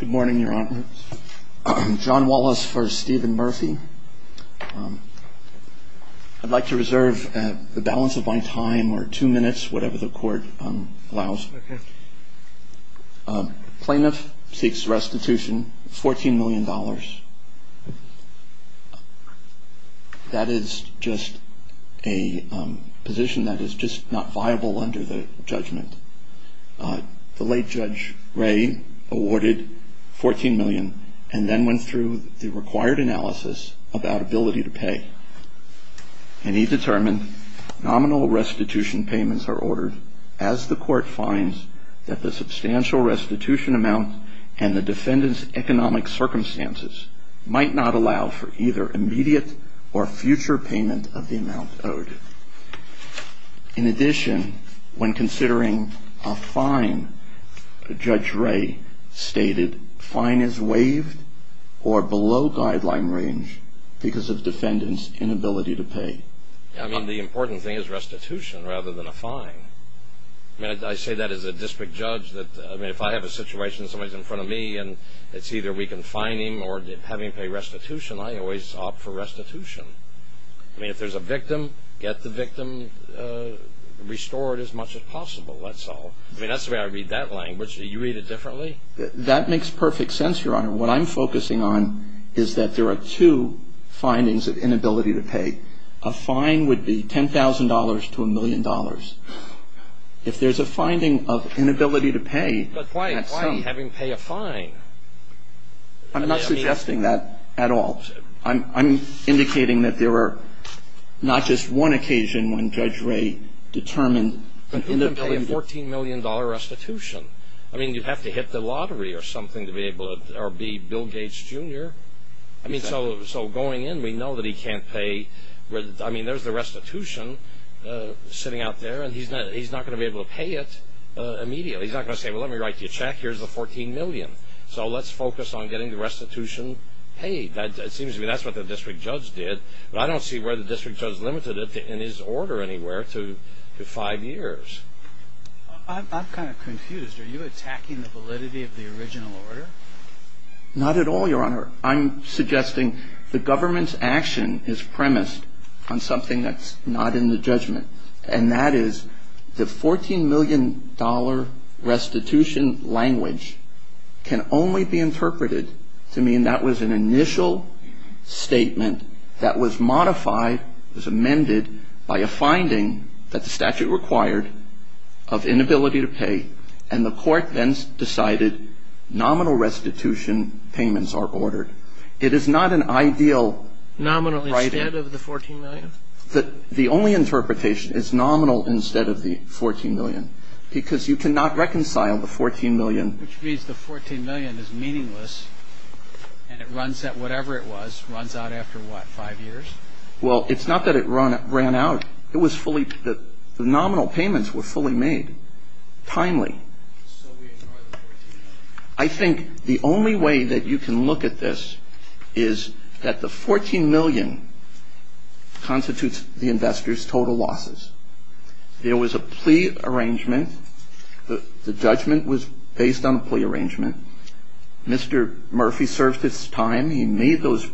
Good morning, Your Honor. John Wallace v. Stephen Murphy. I'd like to reserve the balance of my time or two minutes, whatever the court allows. Plaintiff seeks restitution, $14 million. That is just a position that is just not viable under the judgment. The late Judge Ray awarded $14 million and then went through the required analysis about ability to pay. And he determined nominal restitution payments are ordered as the court finds that the substantial restitution amount and the defendant's economic circumstances might not allow for either immediate or future payment of the amount owed. In addition, when considering a fine, Judge Ray stated, fine is waived or below guideline range because of defendant's inability to pay. I mean, the important thing is restitution rather than a fine. I mean, I say that as a district judge. I mean, if I have a situation, somebody's in front of me and it's either we can fine him or have him pay restitution, I always opt for restitution. I mean, if there's a victim, get the victim restored as much as possible, that's all. I mean, that's the way I read that language. Do you read it differently? That makes perfect sense, Your Honor. What I'm focusing on is that there are two findings of inability to pay. A fine would be $10,000 to a million dollars. If there's a finding of inability to pay, that's fine. But why have him pay a fine? I'm not suggesting that at all. I'm indicating that there are not just one occasion when Judge Ray determined an inability to pay. $14 million restitution. I mean, you have to hit the lottery or something to be able to, or be Bill Gates Jr. I mean, so going in, we know that he can't pay. I mean, there's the restitution sitting out there, and he's not going to be able to pay it immediately. He's not going to say, well, let me write you a check. Here's the $14 million. So let's focus on getting the restitution paid. It seems to me that's what the district judge did, but I don't see where the district judge limited it in his order anywhere to five years. I'm kind of confused. Are you attacking the validity of the original order? Not at all, Your Honor. I'm suggesting the government's action is premised on something that's not in the judgment, and that is the $14 million restitution language can only be interpreted to mean that was an initial statement that was modified, was amended by a finding that the statute required of inability to pay, and the court then decided nominal restitution payments are ordered. It is not an ideal writing. Nominal instead of the $14 million? The only interpretation is nominal instead of the $14 million, because you cannot reconcile the $14 million. Which means the $14 million is meaningless, and it runs at whatever it was, runs out after what, five years? Well, it's not that it ran out. It was fully the nominal payments were fully made, timely. So we ignore the $14 million? I think the only way that you can look at this is that the $14 million constitutes the investors' total losses. There was a plea arrangement. The judgment was based on a plea arrangement. Mr. Murphy served his time. He made those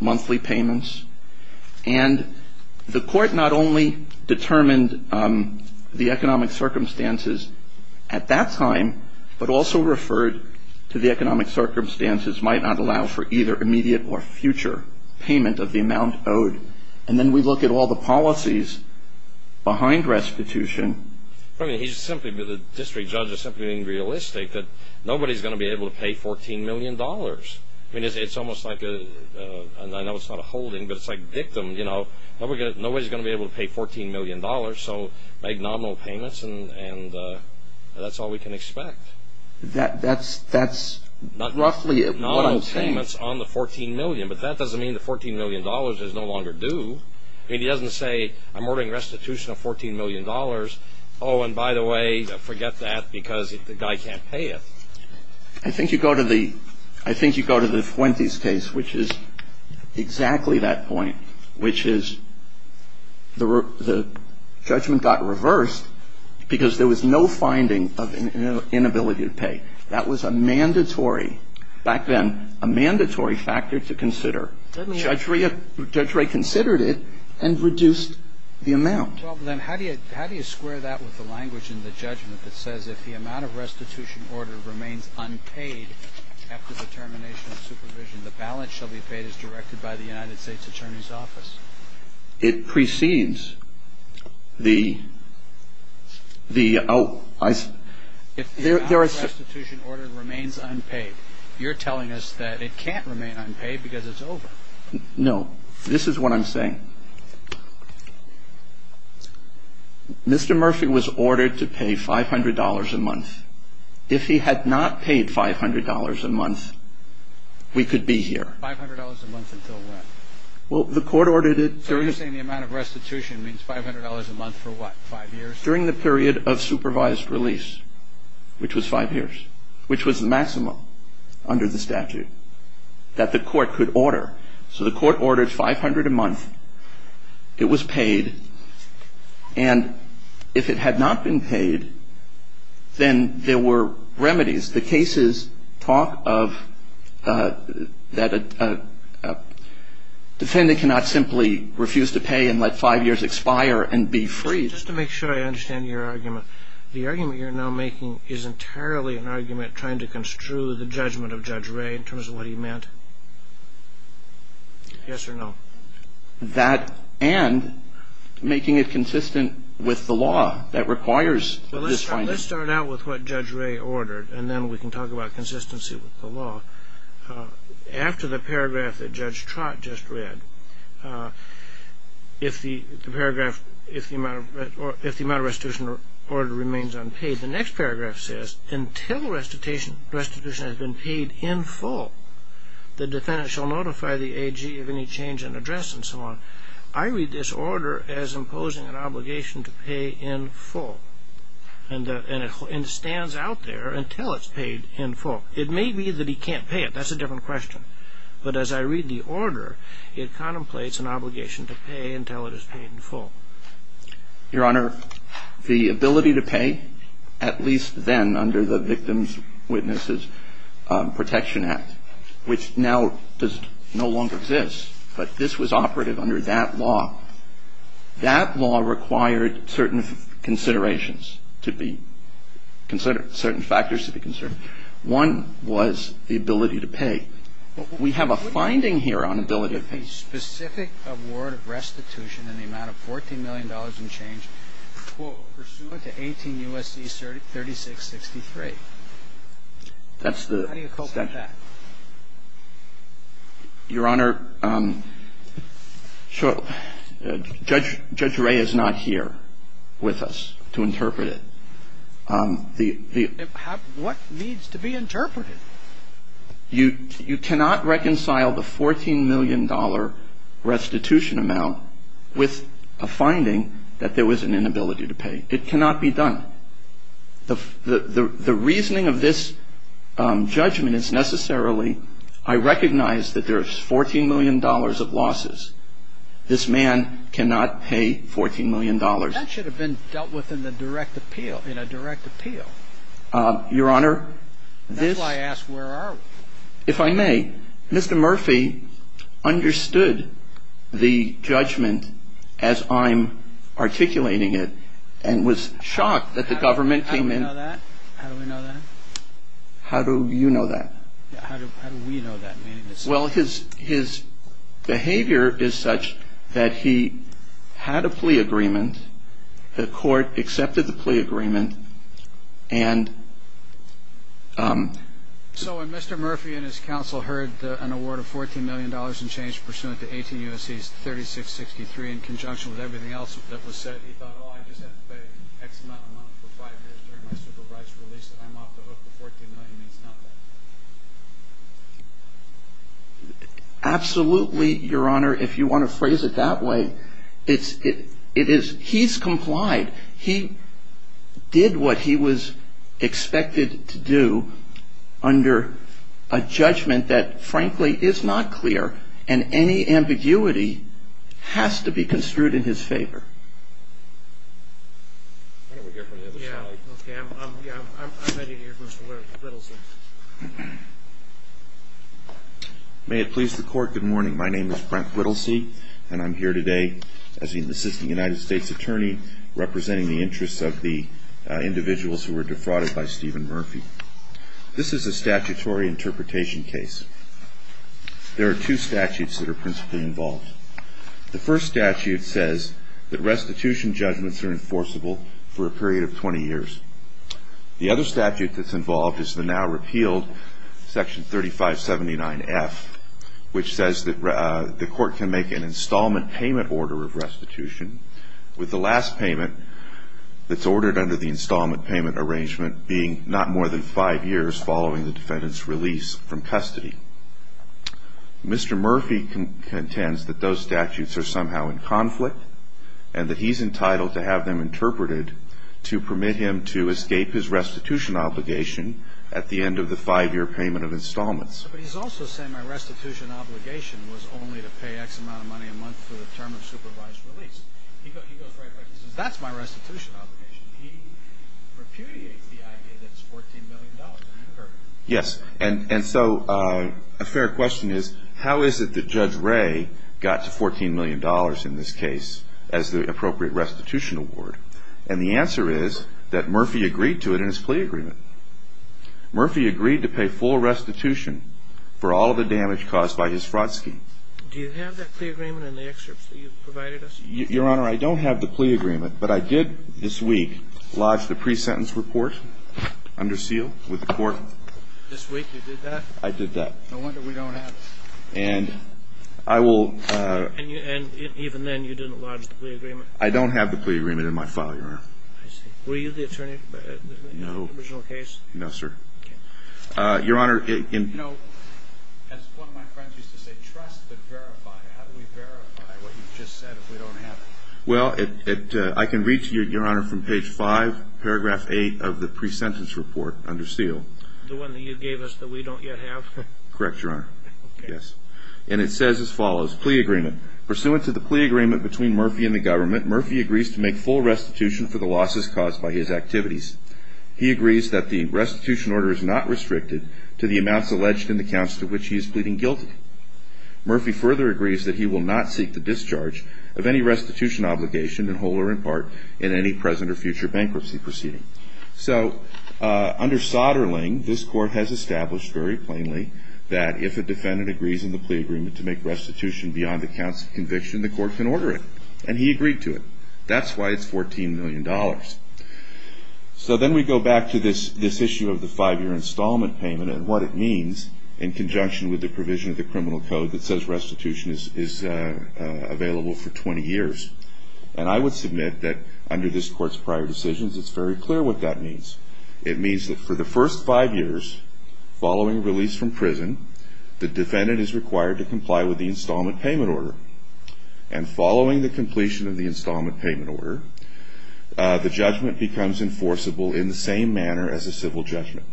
monthly payments. And the court not only determined the economic circumstances at that time, but also referred to the economic circumstances might not allow for either immediate or future payment of the amount owed. And then we look at all the policies behind restitution. The district judge is simply being realistic that nobody is going to be able to pay $14 million. I mean, it's almost like a – I know it's not a holding, but it's like dictum, you know. Nobody is going to be able to pay $14 million. So make nominal payments, and that's all we can expect. That's roughly what I'm saying. Nominal payments on the $14 million, but that doesn't mean the $14 million is no longer due. I mean, he doesn't say, I'm ordering restitution of $14 million. Oh, and by the way, forget that, because the guy can't pay it. I think you go to the Fuentes case, which is exactly that point, which is the judgment got reversed because there was no finding of inability to pay. That was a mandatory, back then, a mandatory factor to consider. Judge Ray considered it and reduced the amount. Well, then how do you square that with the language in the judgment that says, if the amount of restitution order remains unpaid after the termination of supervision, the balance shall be paid as directed by the United States Attorney's Office? It precedes the – oh, I see. If the amount of restitution order remains unpaid, you're telling us that it can't remain unpaid because it's over. No. This is what I'm saying. Mr. Murphy was ordered to pay $500 a month. If he had not paid $500 a month, we could be here. $500 a month until when? Well, the court ordered it – So you're saying the amount of restitution means $500 a month for what, five years? During the period of supervised release, which was five years, which was the maximum under the statute that the court could order. So the court ordered $500 a month. It was paid. And if it had not been paid, then there were remedies. The cases talk of that a defendant cannot simply refuse to pay and let five years expire and be freed. Just to make sure I understand your argument, the argument you're now making is entirely an argument trying to construe the judgment of Judge Ray in terms of what he meant? Yes or no? That and making it consistent with the law that requires this finding. Well, let's start out with what Judge Ray ordered, and then we can talk about consistency with the law. After the paragraph that Judge Trott just read, if the amount of restitution order remains unpaid, the next paragraph says, until restitution has been paid in full, the defendant shall notify the AG of any change in address and so on. I read this order as imposing an obligation to pay in full. And it stands out there until it's paid in full. It may be that he can't pay it. That's a different question. But as I read the order, it contemplates an obligation to pay until it is paid in full. Your Honor, the ability to pay, at least then under the Victims' Witnesses Protection Act, which now does no longer exist, but this was operative under that law, that law required certain considerations to be considered, certain factors to be considered. One was the ability to pay. We have a finding here on ability to pay. But what about the specific award of restitution in the amount of $14 million in change pursuant to 18 U.S.C. 3663? That's the extension. How do you cope with that? Your Honor, Judge Ray is not here with us to interpret it. What needs to be interpreted? You cannot reconcile the $14 million restitution amount with a finding that there was an inability to pay. It cannot be done. The reasoning of this judgment is necessarily I recognize that there's $14 million of losses. This man cannot pay $14 million. That should have been dealt with in a direct appeal. Your Honor, this ‑‑ That's why I asked where are we. If I may, Mr. Murphy understood the judgment as I'm articulating it and was shocked that the government came in. How do we know that? How do you know that? How do we know that? Well, his behavior is such that he had a plea agreement. The court accepted the plea agreement. So when Mr. Murphy and his counsel heard an award of $14 million in change pursuant to 18 U.S.C. 3663 in conjunction with everything else that was said, he thought, oh, I just have to pay X amount of money for five years during my supervised release and I'm off the hook. The $14 million means nothing. Absolutely, Your Honor, if you want to phrase it that way. It is ‑‑ he's complied. He did what he was expected to do under a judgment that frankly is not clear and any ambiguity has to be construed in his favor. Why don't we hear from the other side? Yeah, okay, I'm ready to hear from Mr. Rittlesy. May it please the court, good morning, my name is Frank Rittlesy and I'm here today as the Assistant United States Attorney representing the interests of the individuals who were defrauded by Stephen Murphy. This is a statutory interpretation case. There are two statutes that are principally involved. The first statute says that restitution judgments are enforceable for a period of 20 years. The other statute that's involved is the now repealed Section 3579F, which says that the court can make an installment payment order of restitution with the last payment that's ordered under the installment payment arrangement being not more than five years following the defendant's release from custody. Mr. Murphy contends that those statutes are somehow in conflict and that he's entitled to have them interpreted to permit him to escape his restitution obligation at the end of the five‑year payment of installments. But he's also saying my restitution obligation was only to pay X amount of money a month for the term of supervised release. He goes right away and says that's my restitution obligation. He repudiates the idea that it's $14 million. Yes. And so a fair question is how is it that Judge Ray got to $14 million in this case as the appropriate restitution award? And the answer is that Murphy agreed to it in his plea agreement. Murphy agreed to pay full restitution for all of the damage caused by his fraud scheme. Do you have that plea agreement in the excerpts that you provided us? Your Honor, I don't have the plea agreement, but I did this week lodge the pre-sentence report under seal with the court. This week you did that? I did that. No wonder we don't have it. And I will ‑‑ And even then you didn't lodge the plea agreement? I don't have the plea agreement in my file, Your Honor. I see. Were you the attorney in the original case? No, sir. Okay. Your Honor, in ‑‑ You know, as one of my friends used to say, trust but verify. How do we verify what you just said if we don't have it? Well, I can read to you, Your Honor, from page 5, paragraph 8 of the pre-sentence report under seal. The one that you gave us that we don't yet have? Correct, Your Honor. Okay. Yes. And it says as follows. Plea agreement. Pursuant to the plea agreement between Murphy and the government, Murphy agrees to make full restitution for the losses caused by his activities. He agrees that the restitution order is not restricted to the amounts alleged in the counts to which he is pleading guilty. Murphy further agrees that he will not seek the discharge of any restitution obligation in whole or in part in any present or future bankruptcy proceeding. So under Soderling, this Court has established very plainly that if a defendant agrees in the plea agreement to make restitution beyond the counts of conviction, the Court can order it. And he agreed to it. That's why it's $14 million. So then we go back to this issue of the five‑year installment payment and what it means in conjunction with the provision of the criminal code that says restitution is available for 20 years. And I would submit that under this Court's prior decisions, it's very clear what that means. It means that for the first five years following release from prison, the defendant is required to comply with the installment payment order. And following the completion of the installment payment order, the judgment becomes enforceable in the same manner as a civil judgment.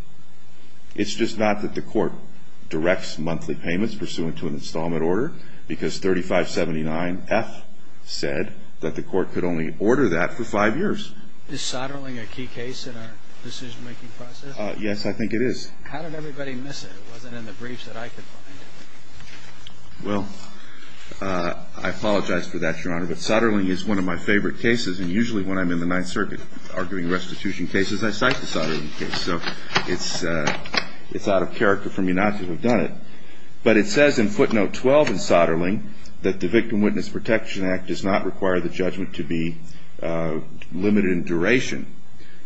It's just not that the Court directs monthly payments pursuant to an installment order because 3579F said that the Court could only order that for five years. Is Soderling a key case in our decision‑making process? Yes, I think it is. How did everybody miss it? It wasn't in the briefs that I could find. Well, I apologize for that, Your Honor. But Soderling is one of my favorite cases. And usually when I'm in the Ninth Circuit arguing restitution cases, I cite the Soderling case. So it's out of character for me not to have done it. But it says in footnote 12 in Soderling that the Victim Witness Protection Act does not require the judgment to be limited in duration.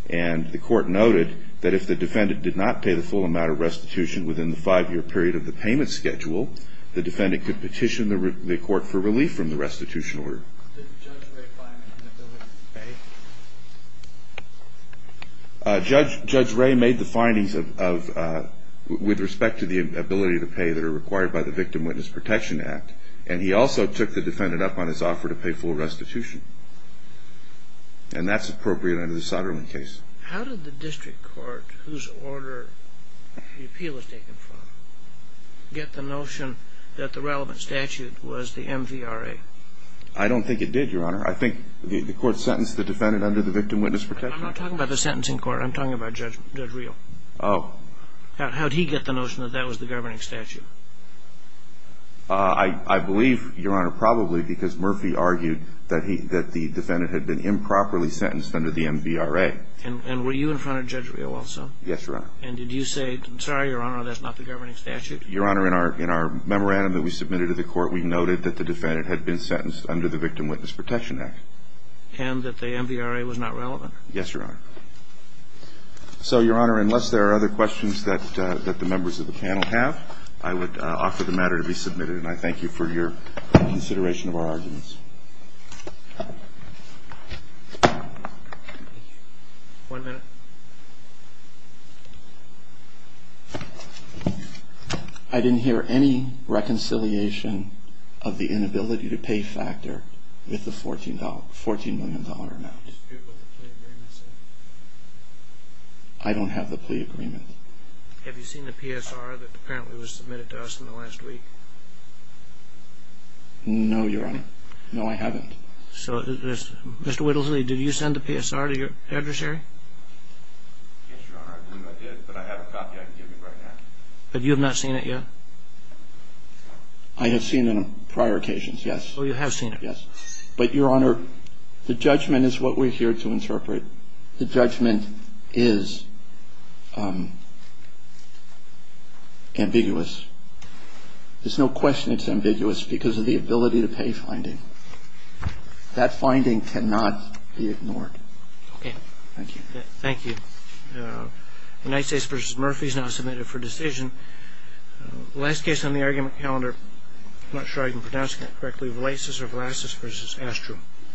And the Court noted that if the defendant did not pay the full amount of restitution within the five‑year period of the payment schedule, the defendant could petition the Court for relief from the restitution order. Did Judge Ray Fyman in the building pay? Judge Ray made the findings with respect to the ability to pay that are required by the Victim Witness Protection Act. And he also took the defendant up on his offer to pay full restitution. And that's appropriate under the Soderling case. How did the district court, whose order the appeal was taken from, get the notion that the relevant statute was the MVRA? I don't think it did, Your Honor. I think the Court sentenced the defendant under the Victim Witness Protection Act. I'm not talking about the sentencing court. I'm talking about Judge Reel. Oh. How did he get the notion that that was the governing statute? I believe, Your Honor, probably because Murphy argued that the defendant had been improperly sentenced under the MVRA. And were you in front of Judge Reel also? Yes, Your Honor. And did you say, sorry, Your Honor, that's not the governing statute? Your Honor, in our memorandum that we submitted to the Court, we noted that the defendant had been sentenced under the Victim Witness Protection Act. And that the MVRA was not relevant? Yes, Your Honor. So, Your Honor, unless there are other questions that the members of the panel have, I would offer the matter to be submitted, and I thank you for your consideration of our arguments. One minute. I didn't hear any reconciliation of the inability to pay factor with the $14 million amount. I dispute what the plea agreement said. I don't have the plea agreement. Have you seen the PSR that apparently was submitted to us in the last week? No, Your Honor. No, I haven't. So, Mr. Whittlesley, did you send the PSR to your adversary? Yes, Your Honor, I believe I did, but I have a copy I can give you right now. But you have not seen it yet? I have seen it on prior occasions, yes. Oh, you have seen it? Yes. But, Your Honor, the judgment is what we're here to interpret. The judgment is ambiguous. There's no question it's ambiguous because of the ability to pay finding. That finding cannot be ignored. Okay. Thank you. Thank you. United States v. Murphy is now submitted for decision. The last case on the argument calendar, I'm not sure I'm pronouncing that correctly, Valaisis v. Astrum.